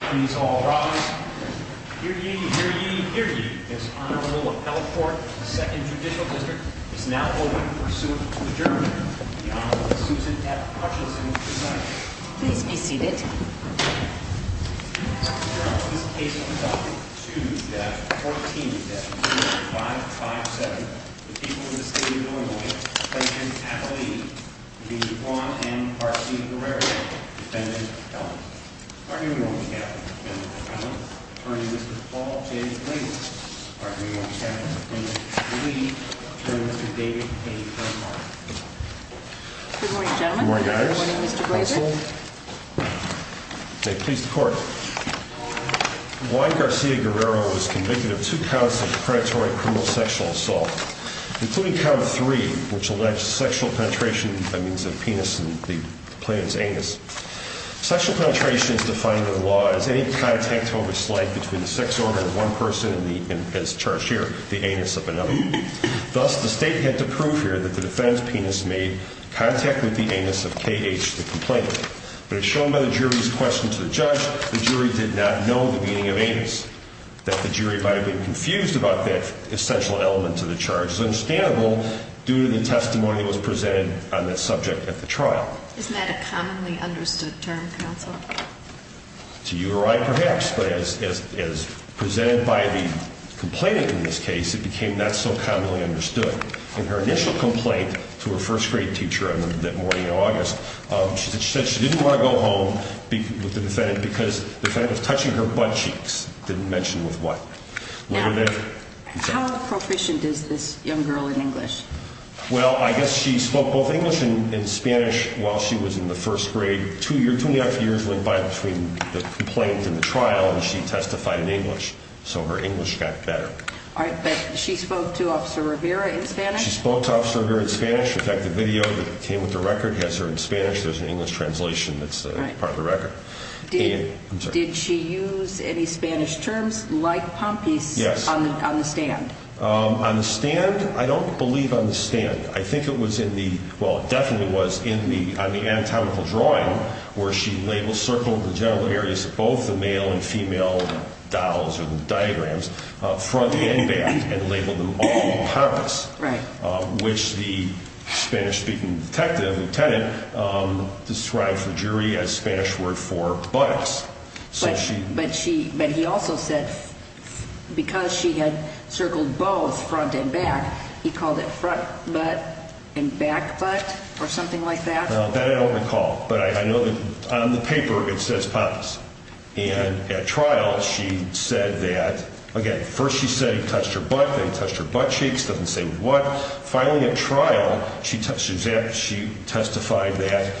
Please all rise. Hear ye, hear ye, hear ye. This Honorable Appellate Court of the 2nd Judicial District is now open in pursuit of adjournment. The Honorable Susan F. Hutchinson is presiding. Please be seated. In this case of Doctrine 2-14-2557, the people of the State of Illinois present at the lead be Juan M. Garcia-Guerrero, Defendant, Appellant. Attorney Ron McCaffrey, Defendant, Appellant. Attorney Mr. Paul J. Clayton. Attorney Ron McCaffrey, Defendant, Appellate. Attorney Mr. David A. Crenshaw. Good morning, gentlemen. Good morning, guys. Good morning, Mr. Glazer. May it please the Court. Juan Garcia-Guerrero was convicted of two counts of predatory criminal sexual assault, including count three, which alleged sexual penetration by means of penis and the plaintiff's anus. Sexual penetration is defined in the law as any contact over slight between the sex organ of one person and the, as charged here, the anus of another. Thus, the State had to prove here that the defendant's penis made contact with the anus of K.H., the complainant. But as shown by the jury's question to the judge, the jury did not know the meaning of anus, that the jury might have been confused about that essential element to the charge. It's understandable due to the testimony that was presented on that subject at the trial. Isn't that a commonly understood term, counsel? To you or I, perhaps. But as presented by the complainant in this case, it became not so commonly understood. In her initial complaint to her first grade teacher that morning in August, she said she didn't want to go home with the defendant because the defendant was touching her butt cheeks. Didn't mention with what. Now, how proficient is this young girl in English? Well, I guess she spoke both English and Spanish while she was in the first grade. Two years, two and a half years went by between the complaint and the trial, and she testified in English. So her English got better. All right, but she spoke to Officer Rivera in Spanish? She spoke to Officer Rivera in Spanish. In fact, the video that came with the record has her in Spanish. There's an English translation that's part of the record. Did she use any Spanish terms like pompous on the stand? On the stand? I don't believe on the stand. I think it was in the – well, it definitely was on the anatomical drawing where she labeled, circled the genital areas of both the male and female dolls or the diagrams, front and back, and labeled them all pompous, which the Spanish-speaking detective, lieutenant, described to the jury as Spanish word for buttocks. But she – but he also said because she had circled both front and back, he called it front butt and back butt or something like that? That I don't recall, but I know that on the paper it says pompous. And at trial, she said that – again, first she said he touched her butt, then he touched her buttcheeks, doesn't say what. Finally, at trial, she testified that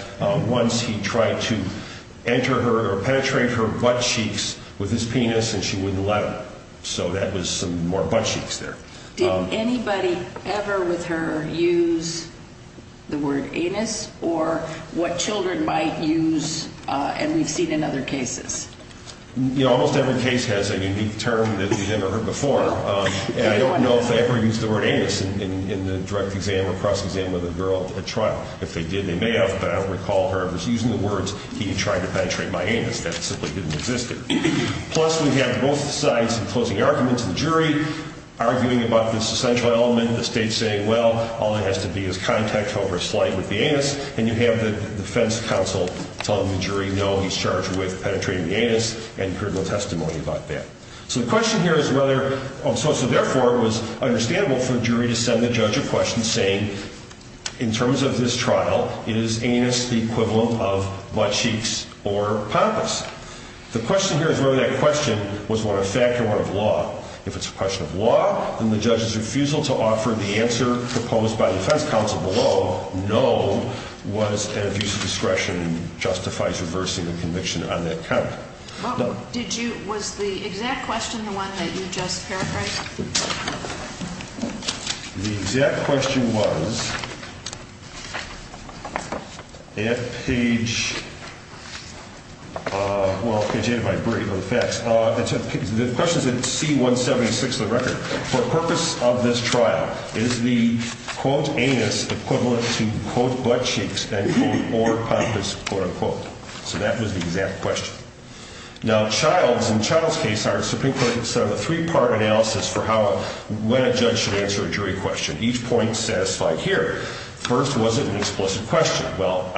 once he tried to enter her or penetrate her buttcheeks with his penis and she wouldn't let him. So that was some more buttcheeks there. Did anybody ever with her use the word anus or what children might use, and we've seen in other cases? You know, almost every case has a unique term that we've never heard before. And I don't know if they ever used the word anus in the direct exam or cross-exam of the girl at trial. If they did, they may have, but I don't recall her ever using the words he tried to penetrate my anus. That simply didn't exist. Plus, we have both sides enclosing arguments in the jury, arguing about this essential element, the state saying, well, all it has to be is contact over a slight with the anus, and you have the defense counsel telling the jury, no, he's charged with penetrating the anus, and you heard no testimony about that. So the question here is whether, so therefore it was understandable for the jury to send the judge a question saying, in terms of this trial, is anus the equivalent of buttcheeks or pompous? The question here is whether that question was one of fact or one of law. If it's a question of law, then the judge's refusal to offer the answer proposed by the defense counsel below, no, was an abuse of discretion and justifies reversing the conviction on that count. Did you, was the exact question the one that you just paraphrased? The exact question was, if page, well, page 8 of my brief on facts, the question is in C176 of the record. For the purpose of this trial, is the, quote, anus equivalent to, quote, buttcheeks and, quote, or pompous, quote, unquote? So that was the exact question. Now, Child's, in Child's case, are a three-part analysis for how, when a judge should answer a jury question. Each point's satisfied here. First, was it an explicit question? Well,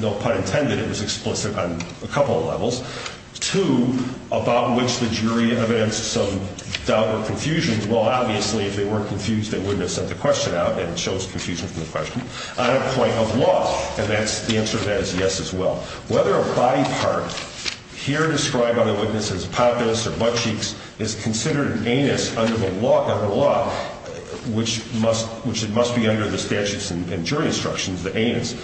no pun intended, it was explicit on a couple of levels. Two, about which the jury evidenced some doubt or confusion. Well, obviously, if they weren't confused, they wouldn't have sent the question out and chose confusion from the question. On a point of law, and that's, the answer to that is yes as well. Whether a body part here described by the witness as pompous or buttcheeks is considered an anus under the law, which must, which it must be under the statutes and jury instructions, the anus.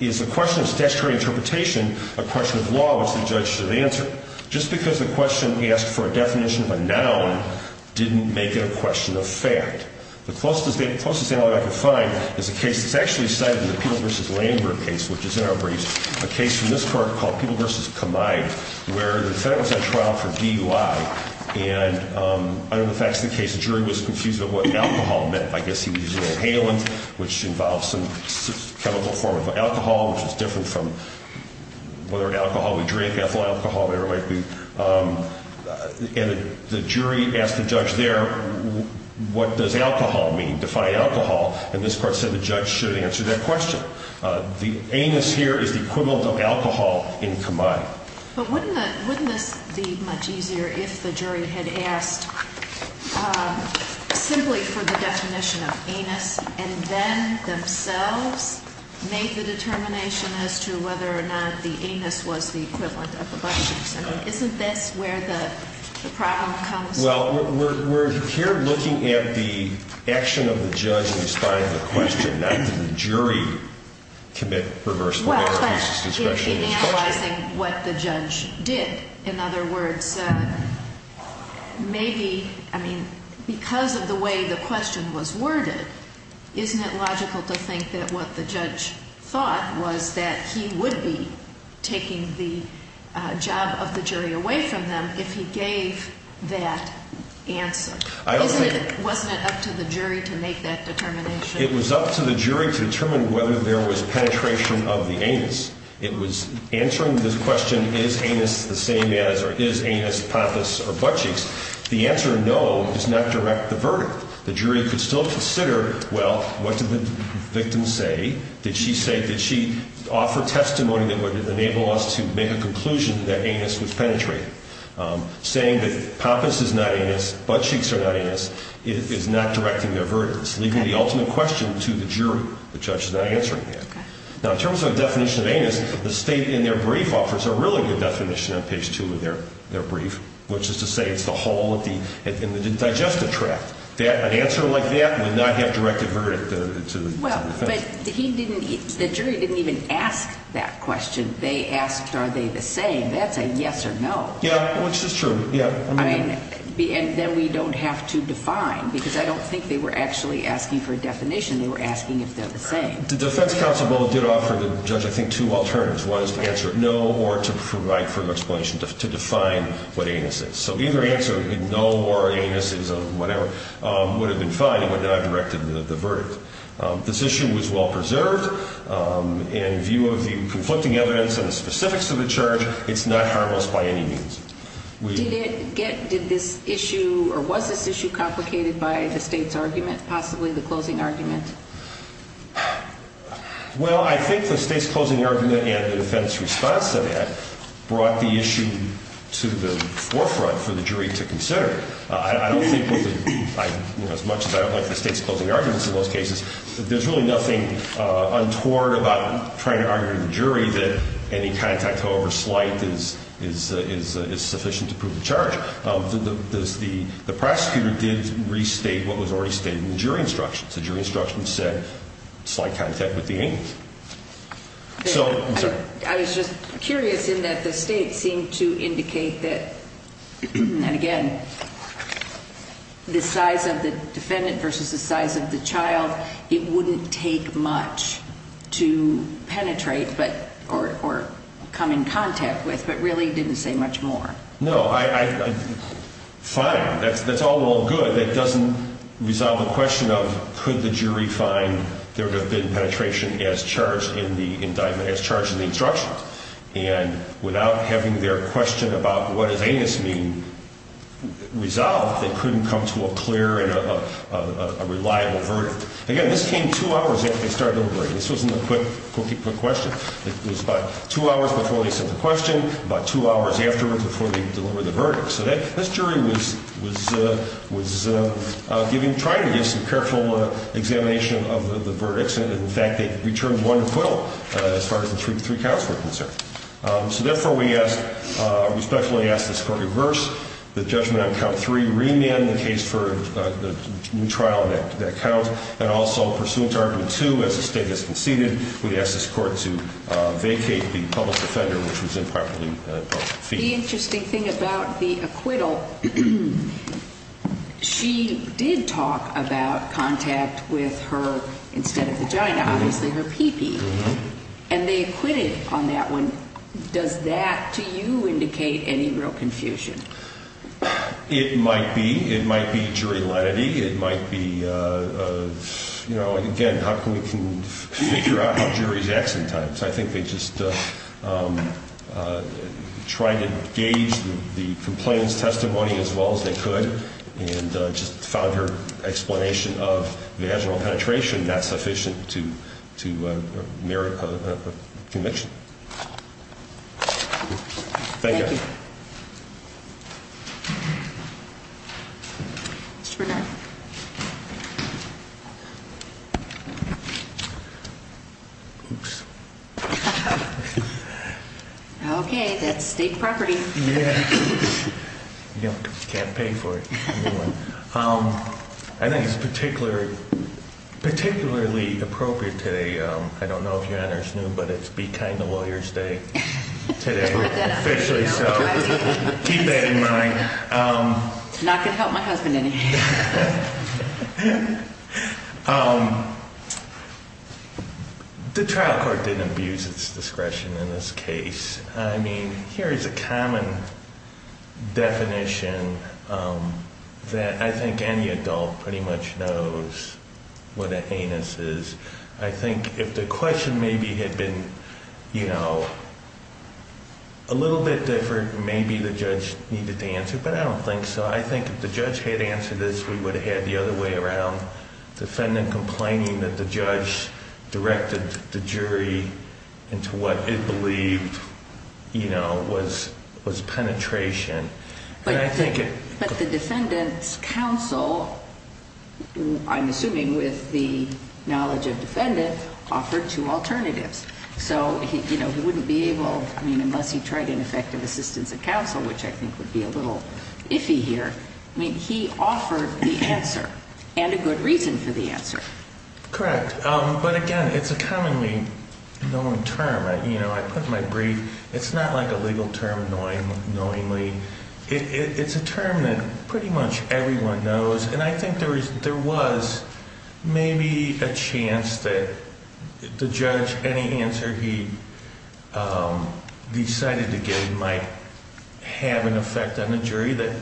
Is the question of statutory interpretation a question of law, which the judge should answer? Just because the question asked for a definition of a noun didn't make it a question of fact. The closest analog I could find is a case that's actually cited in the Peeble v. Lambert case, which is in our briefs, a case from this court called Peeble v. Kamai, where the defendant was on trial for DUI, and under the facts of the case, the jury was confused about what alcohol meant. I guess he was using inhalant, which involves some chemical form of alcohol, which is different from whatever alcohol we drink, ethyl alcohol, whatever it might be. And the jury asked the judge there, what does alcohol mean, define alcohol? And this court said the judge should answer that question. The anus here is the equivalent of alcohol in Kamai. But wouldn't this be much easier if the jury had asked simply for the definition of anus and then themselves made the determination as to whether or not the anus was the equivalent of the buttocks? I mean, isn't this where the problem comes from? Well, we're here looking at the action of the judge in responding to the question, not did the jury commit perverse behavior. Well, in analyzing what the judge did. In other words, maybe, I mean, because of the way the question was worded, isn't it logical to think that what the judge thought was that he would be taking the job of the jury away from them if he gave that answer? Wasn't it up to the jury to make that determination? It was up to the jury to determine whether there was penetration of the anus. It was answering this question, is anus the same as, or is anus poppous or buttcheeks? The answer, no, does not direct the verdict. The jury could still consider, well, what did the victim say? Did she say, did she offer testimony that would enable us to make a conclusion that anus was penetrated? Saying that poppous is not anus, buttcheeks are not anus is not directing their verdicts, giving the ultimate question to the jury. The judge is not answering that. Now, in terms of a definition of anus, the state in their brief offers a really good definition on page 2 of their brief, which is to say it's the hole in the digestive tract. An answer like that would not have directed verdict to the defense. Well, but he didn't, the jury didn't even ask that question. They asked, are they the same? That's a yes or no. Yeah, which is true, yeah. And then we don't have to define, because I don't think they were actually asking for a definition. They were asking if they're the same. The defense counsel did offer the judge, I think, two alternatives. One is to answer no or to provide for an explanation to define what anus is. So either answer, no or anus is whatever, would have been fine. It would not have directed the verdict. This issue was well preserved. In view of the conflicting evidence and the specifics of the charge, it's not harmless by any means. Did this issue or was this issue complicated by the state's argument, possibly the closing argument? Well, I think the state's closing argument and the defense response to that brought the issue to the forefront for the jury to consider. I don't think, as much as I don't like the state's closing arguments in most cases, there's really nothing untoward about trying to argue to the jury that any contact, however slight, is sufficient to prove the charge. The prosecutor did restate what was already stated in the jury instructions. The jury instructions said slight contact with the anus. I'm sorry. I was just curious in that the state seemed to indicate that, and again, the size of the defendant versus the size of the child, it wouldn't take much to penetrate or come in contact with, but really didn't say much more. No. Fine. That's all well and good. That doesn't resolve the question of could the jury find there would have been penetration as charged in the indictment, as charged in the instructions. And without having their question about what does anus mean resolved, they couldn't come to a clear and a reliable verdict. Again, this came two hours after they started deliberating. This wasn't a quick, quickie quick question. It was about two hours before they sent the question, about two hours afterwards before they delivered the verdict. So this jury was giving, trying to give some careful examination of the verdicts. In fact, they returned one acquittal as far as the three counts were concerned. So therefore, we asked, respectfully asked this court to reverse the judgment on count three, remand the case for the trial of that count, and also pursuant to argument two, as the state has conceded, we asked this court to vacate the public defender, which was improperly defeated. The interesting thing about the acquittal, she did talk about contact with her, instead of vagina, obviously her pee pee. And they acquitted on that one. Does that, to you, indicate any real confusion? It might be. It might be jury lenity. It might be, you know, again, how can we figure out how juries accent times. I think they just tried to gauge the complainant's testimony as well as they could, and just found her explanation of vaginal penetration not sufficient to merit a conviction. Thank you. Mr. Bernard. Oops. Okay, that's state property. Yeah. Can't pay for it. I think it's particularly appropriate today. I don't know if your honor is new, but it's Be Kind to Lawyers Day today. Officially, so keep that in mind. Not going to help my husband any. The trial court didn't abuse its discretion in this case. I mean, here is a common definition that I think any adult pretty much knows what a anus is. I think if the question maybe had been, you know, a little bit different, maybe the judge needed to answer, but I don't think so. I think if the judge had answered this, we would have had the other way around. Defendant complaining that the judge directed the jury into what it believed, you know, was penetration. But the defendant's counsel, I'm assuming with the knowledge of defendant, offered two alternatives. So, you know, he wouldn't be able, I mean, unless he tried ineffective assistance of counsel, which I think would be a little iffy here. I mean, he offered the answer and a good reason for the answer. Correct. But again, it's a commonly known term. You know, I put my brief. It's not like a legal term knowingly. It's a term that pretty much everyone knows. And I think there was maybe a chance that the judge, any answer he decided to give might have an effect on the jury that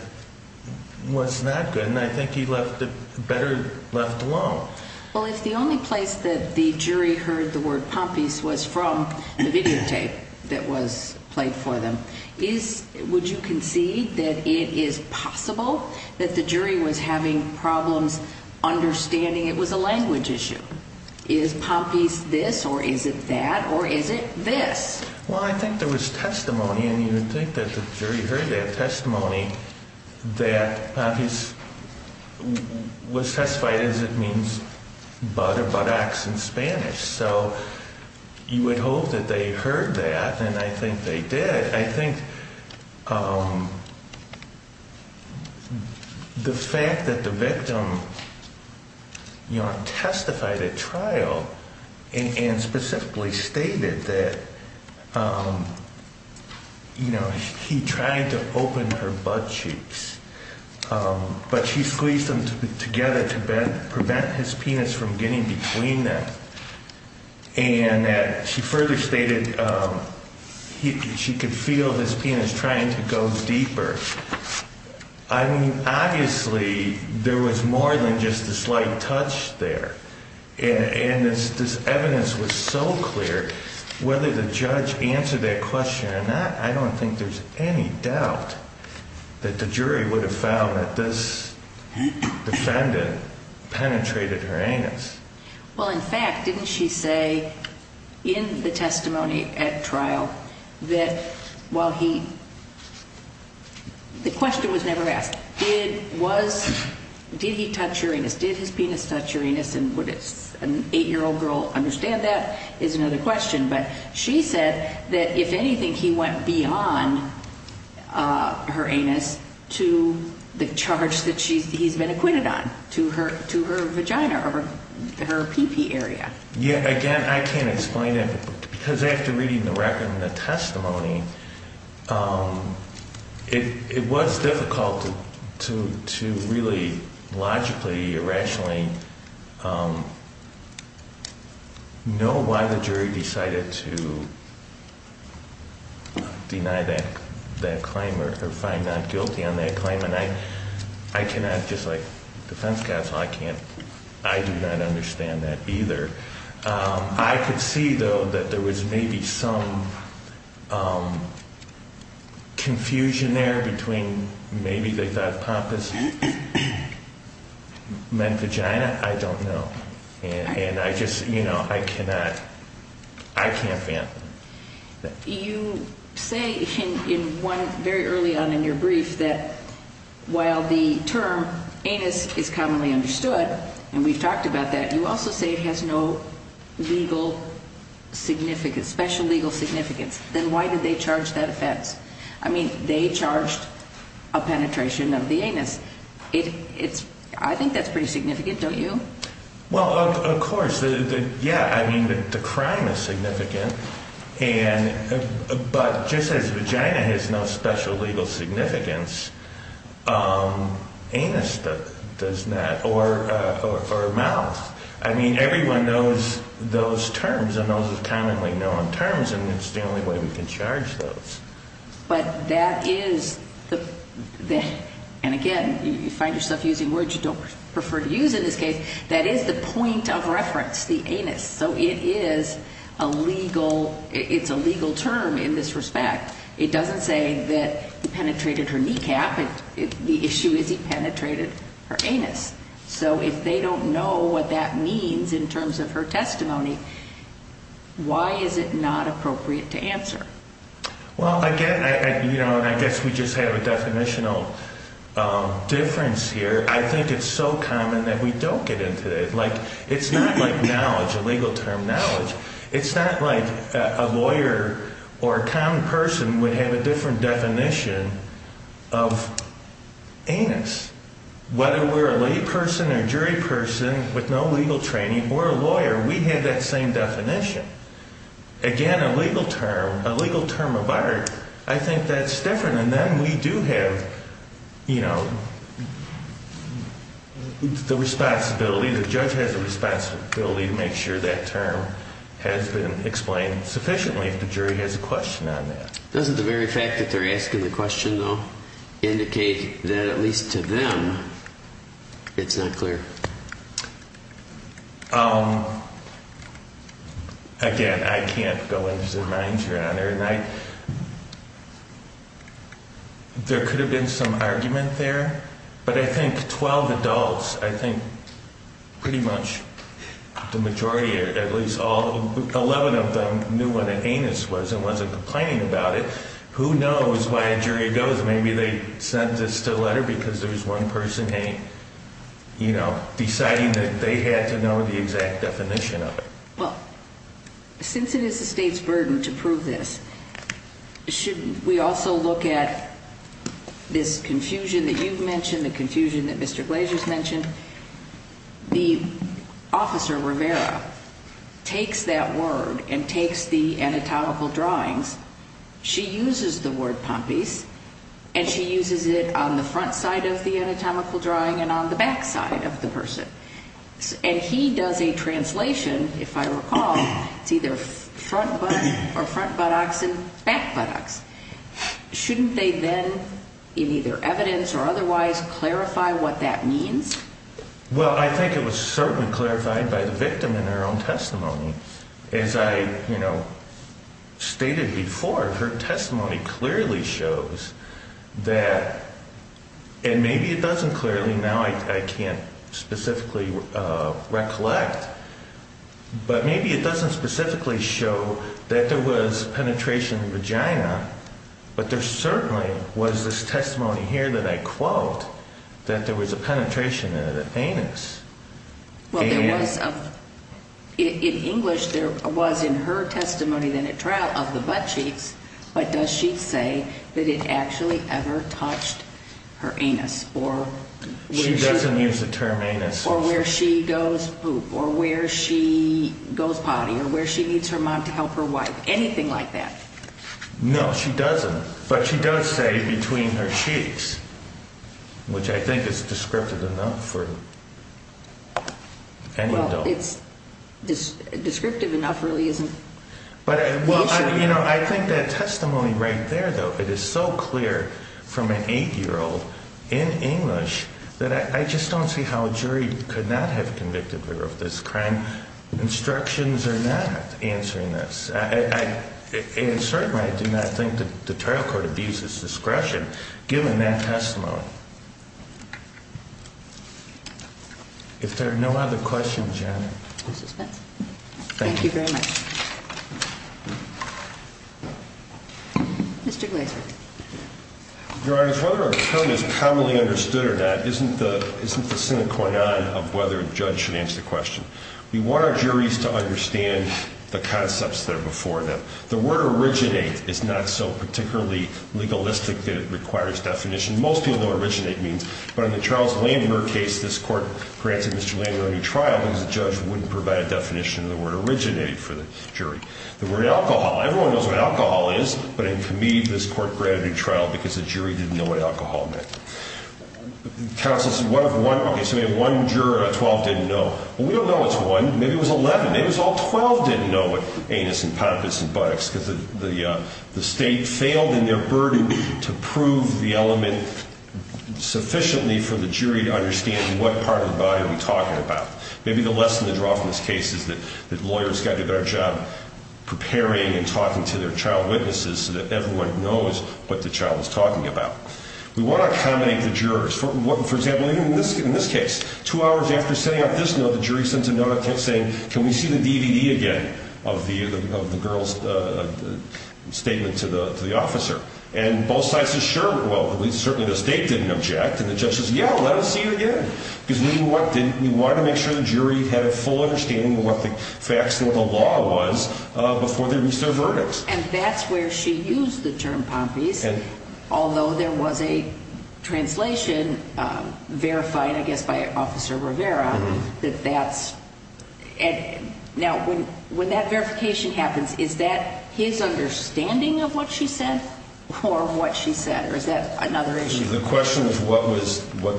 was not good. And I think he left it better left alone. Well, if the only place that the jury heard the word Pompeys was from the videotape that was played for them, would you concede that it is possible that the jury was having problems understanding it was a language issue? Is Pompeys this or is it that or is it this? Well, I think there was testimony and you would think that the jury heard that testimony, that Pompeys was testified as it means but or but acts in Spanish. So you would hope that they heard that. And I think they did. I think the fact that the victim testified at trial and specifically stated that, you know, he tried to open her butt cheeks, but she squeezed them together to prevent his penis from getting between them. And that she further stated she could feel his penis trying to go deeper. I mean, obviously, there was more than just a slight touch there. And this evidence was so clear, whether the judge answered that question or not, I don't think there's any doubt that the jury would have found that this defendant penetrated her anus. Well, in fact, didn't she say in the testimony at trial that while he, the question was never asked, did he touch her anus? Did his penis touch her anus? And would an eight-year-old girl understand that is another question. But she said that if anything, he went beyond her anus to the charge that he's been acquitted on to her to her vagina or her peepee area. Yeah, again, I can't explain it because after reading the record and the testimony, it was difficult to really logically, irrationally know why the jury decided to deny that claim or find not guilty on that claim. And I cannot, just like defense counsel, I can't, I do not understand that either. I could see, though, that there was maybe some confusion there between maybe they thought Pompous meant vagina. I don't know. And I just, you know, I cannot, I can't fathom. You say in one very early on in your brief that while the term anus is commonly understood, and we've talked about that, you also say it has no legal significance, special legal significance. Then why did they charge that offense? I mean, they charged a penetration of the anus. It's, I think that's pretty significant, don't you? Well, of course. Yeah, I mean, the crime is significant. And, but just as vagina has no special legal significance, anus does not, or mouth. I mean, everyone knows those terms and those are commonly known terms, and it's the only way we can charge those. But that is the, and again, you find yourself using words you don't prefer to use in this case, that is the point of reference, the anus. So it is a legal, it's a legal term in this respect. It doesn't say that he penetrated her kneecap. The issue is he penetrated her anus. So if they don't know what that means in terms of her testimony, why is it not appropriate to answer? Well, again, you know, and I guess we just have a definitional difference here. I think it's so common that we don't get into it. Like, it's not like knowledge, a legal term, knowledge. It's not like a lawyer or a common person would have a different definition of anus. Whether we're a lay person or jury person with no legal training or a lawyer, we have that same definition. Again, a legal term, a legal term of art, I think that's different. And then we do have, you know, the responsibility, the judge has a responsibility to make sure that term has been explained sufficiently if the jury has a question on that. Doesn't the very fact that they're asking the question, though, indicate that at least to them it's not clear? Again, I can't go into the mind here, Honor, and I, there could have been some argument there, but I think 12 adults, I think pretty much the majority, at least all, 11 of them knew what an anus was and wasn't complaining about it. Who knows why a jury goes, maybe they sent this to a letter because there was one person, hey, you know, deciding that they had to know the exact definition of it. Well, since it is the state's burden to prove this, shouldn't we also look at this confusion that you've mentioned, the confusion that Mr. Glazer's mentioned? The officer, Rivera, takes that word and takes the anatomical drawings, she uses the word pompies, and she uses it on the front side of the anatomical drawing and on the back side of the person. And he does a translation, if I recall, it's either front butt or front buttocks and back buttocks. Shouldn't they then, in either evidence or otherwise, clarify what that means? Well, I think it was certainly clarified by the victim in her own testimony. As I, you know, stated before, her testimony clearly shows that, and maybe it doesn't clearly, now I can't specifically recollect, but maybe it doesn't specifically show that there was penetration in the vagina, but there certainly was this testimony here that I quote that there was a penetration in the anus. Well, there was, in English, there was in her testimony of the butt cheeks, but does she say that it actually ever touched her anus? She doesn't use the term anus. Or where she goes poop, or where she goes potty, or where she needs her mom to help her wipe, anything like that. No, she doesn't. But she does say between her cheeks, which I think is descriptive enough for any adult. Well, it's descriptive enough really isn't the issue. You know, I think that testimony right there, though, it is so clear from an 8-year-old in English that I just don't see how a jury could not have convicted her of this crime. Instructions are not answering this. And certainly I do not think that the trial court abuses discretion given that testimony. If there are no other questions, Janet. Thank you very much. Mr. Glaser. Your Honor, whether a term is commonly understood or not isn't the sine qua non of whether a judge should answer the question. We want our juries to understand the concepts that are before them. The word originate is not so particularly legalistic that it requires definition. Most people know what originate means. But in the Charles Landner case, this court granted Mr. Landner a new trial because the judge wouldn't provide a definition of the word originate for the jury. The word alcohol. Everyone knows what alcohol is, but it can mean this court granted a new trial because the jury didn't know what alcohol meant. Counsel says what if one, okay, so maybe one juror out of 12 didn't know. Well, we don't know it's one. Maybe it was 11. Maybe it was all 12 didn't know what anus and pampus and buttocks because the state failed in their burden to prove the element sufficiently for the jury to understand what part of the body are we talking about. Maybe the lesson to draw from this case is that lawyers got a better job preparing and talking to their child witnesses so that everyone knows what the child is talking about. We want to accommodate the jurors. For example, in this case, two hours after setting up this note, the jury sends a note saying can we see the DVD again of the girl's statement to the officer. And both sides said sure. Well, certainly the state didn't object. And the judge says yeah, let us see it again. We want to make sure the jury had a full understanding of what the facts of the law was before they reach their verdict. And that's where she used the term pampus. And although there was a translation verified, I guess, by Officer Rivera, that that's now when that verification happens, is that his understanding of what she said or what she said? Or is that another issue? The question is what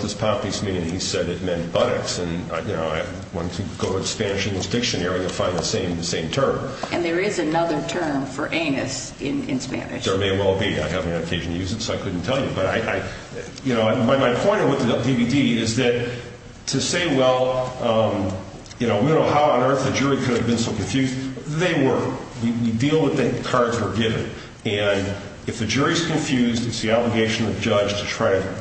does pampus mean? And he said it meant buttocks. And, you know, if you go to the Spanish English Dictionary, you'll find the same term. And there is another term for anus in Spanish. There may well be. I haven't had an occasion to use it, so I couldn't tell you. But, you know, my point with the DVD is that to say, well, you know, we don't know how on earth the jury could have been so confused. They were. We deal with the cards we're given. And if the jury is confused, it's the obligation of the judge to try to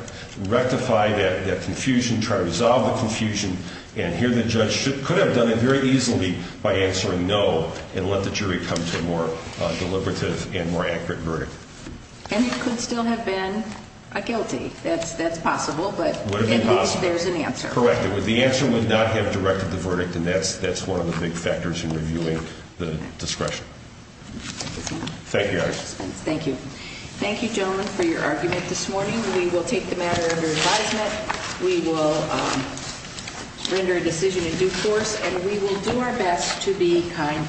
rectify that confusion, try to resolve the confusion. And here the judge could have done it very easily by answering no and let the jury come to a more deliberative and more accurate verdict. And it could still have been a guilty. That's possible. But at least there's an answer. Correct. The answer would not have directed the verdict, and that's one of the big factors in reviewing the discretion. Thank you. Thank you. Thank you, gentlemen, for your argument this morning. We will take the matter under advisement. We will render a decision in due course, and we will do our best to be kind to lawyers today.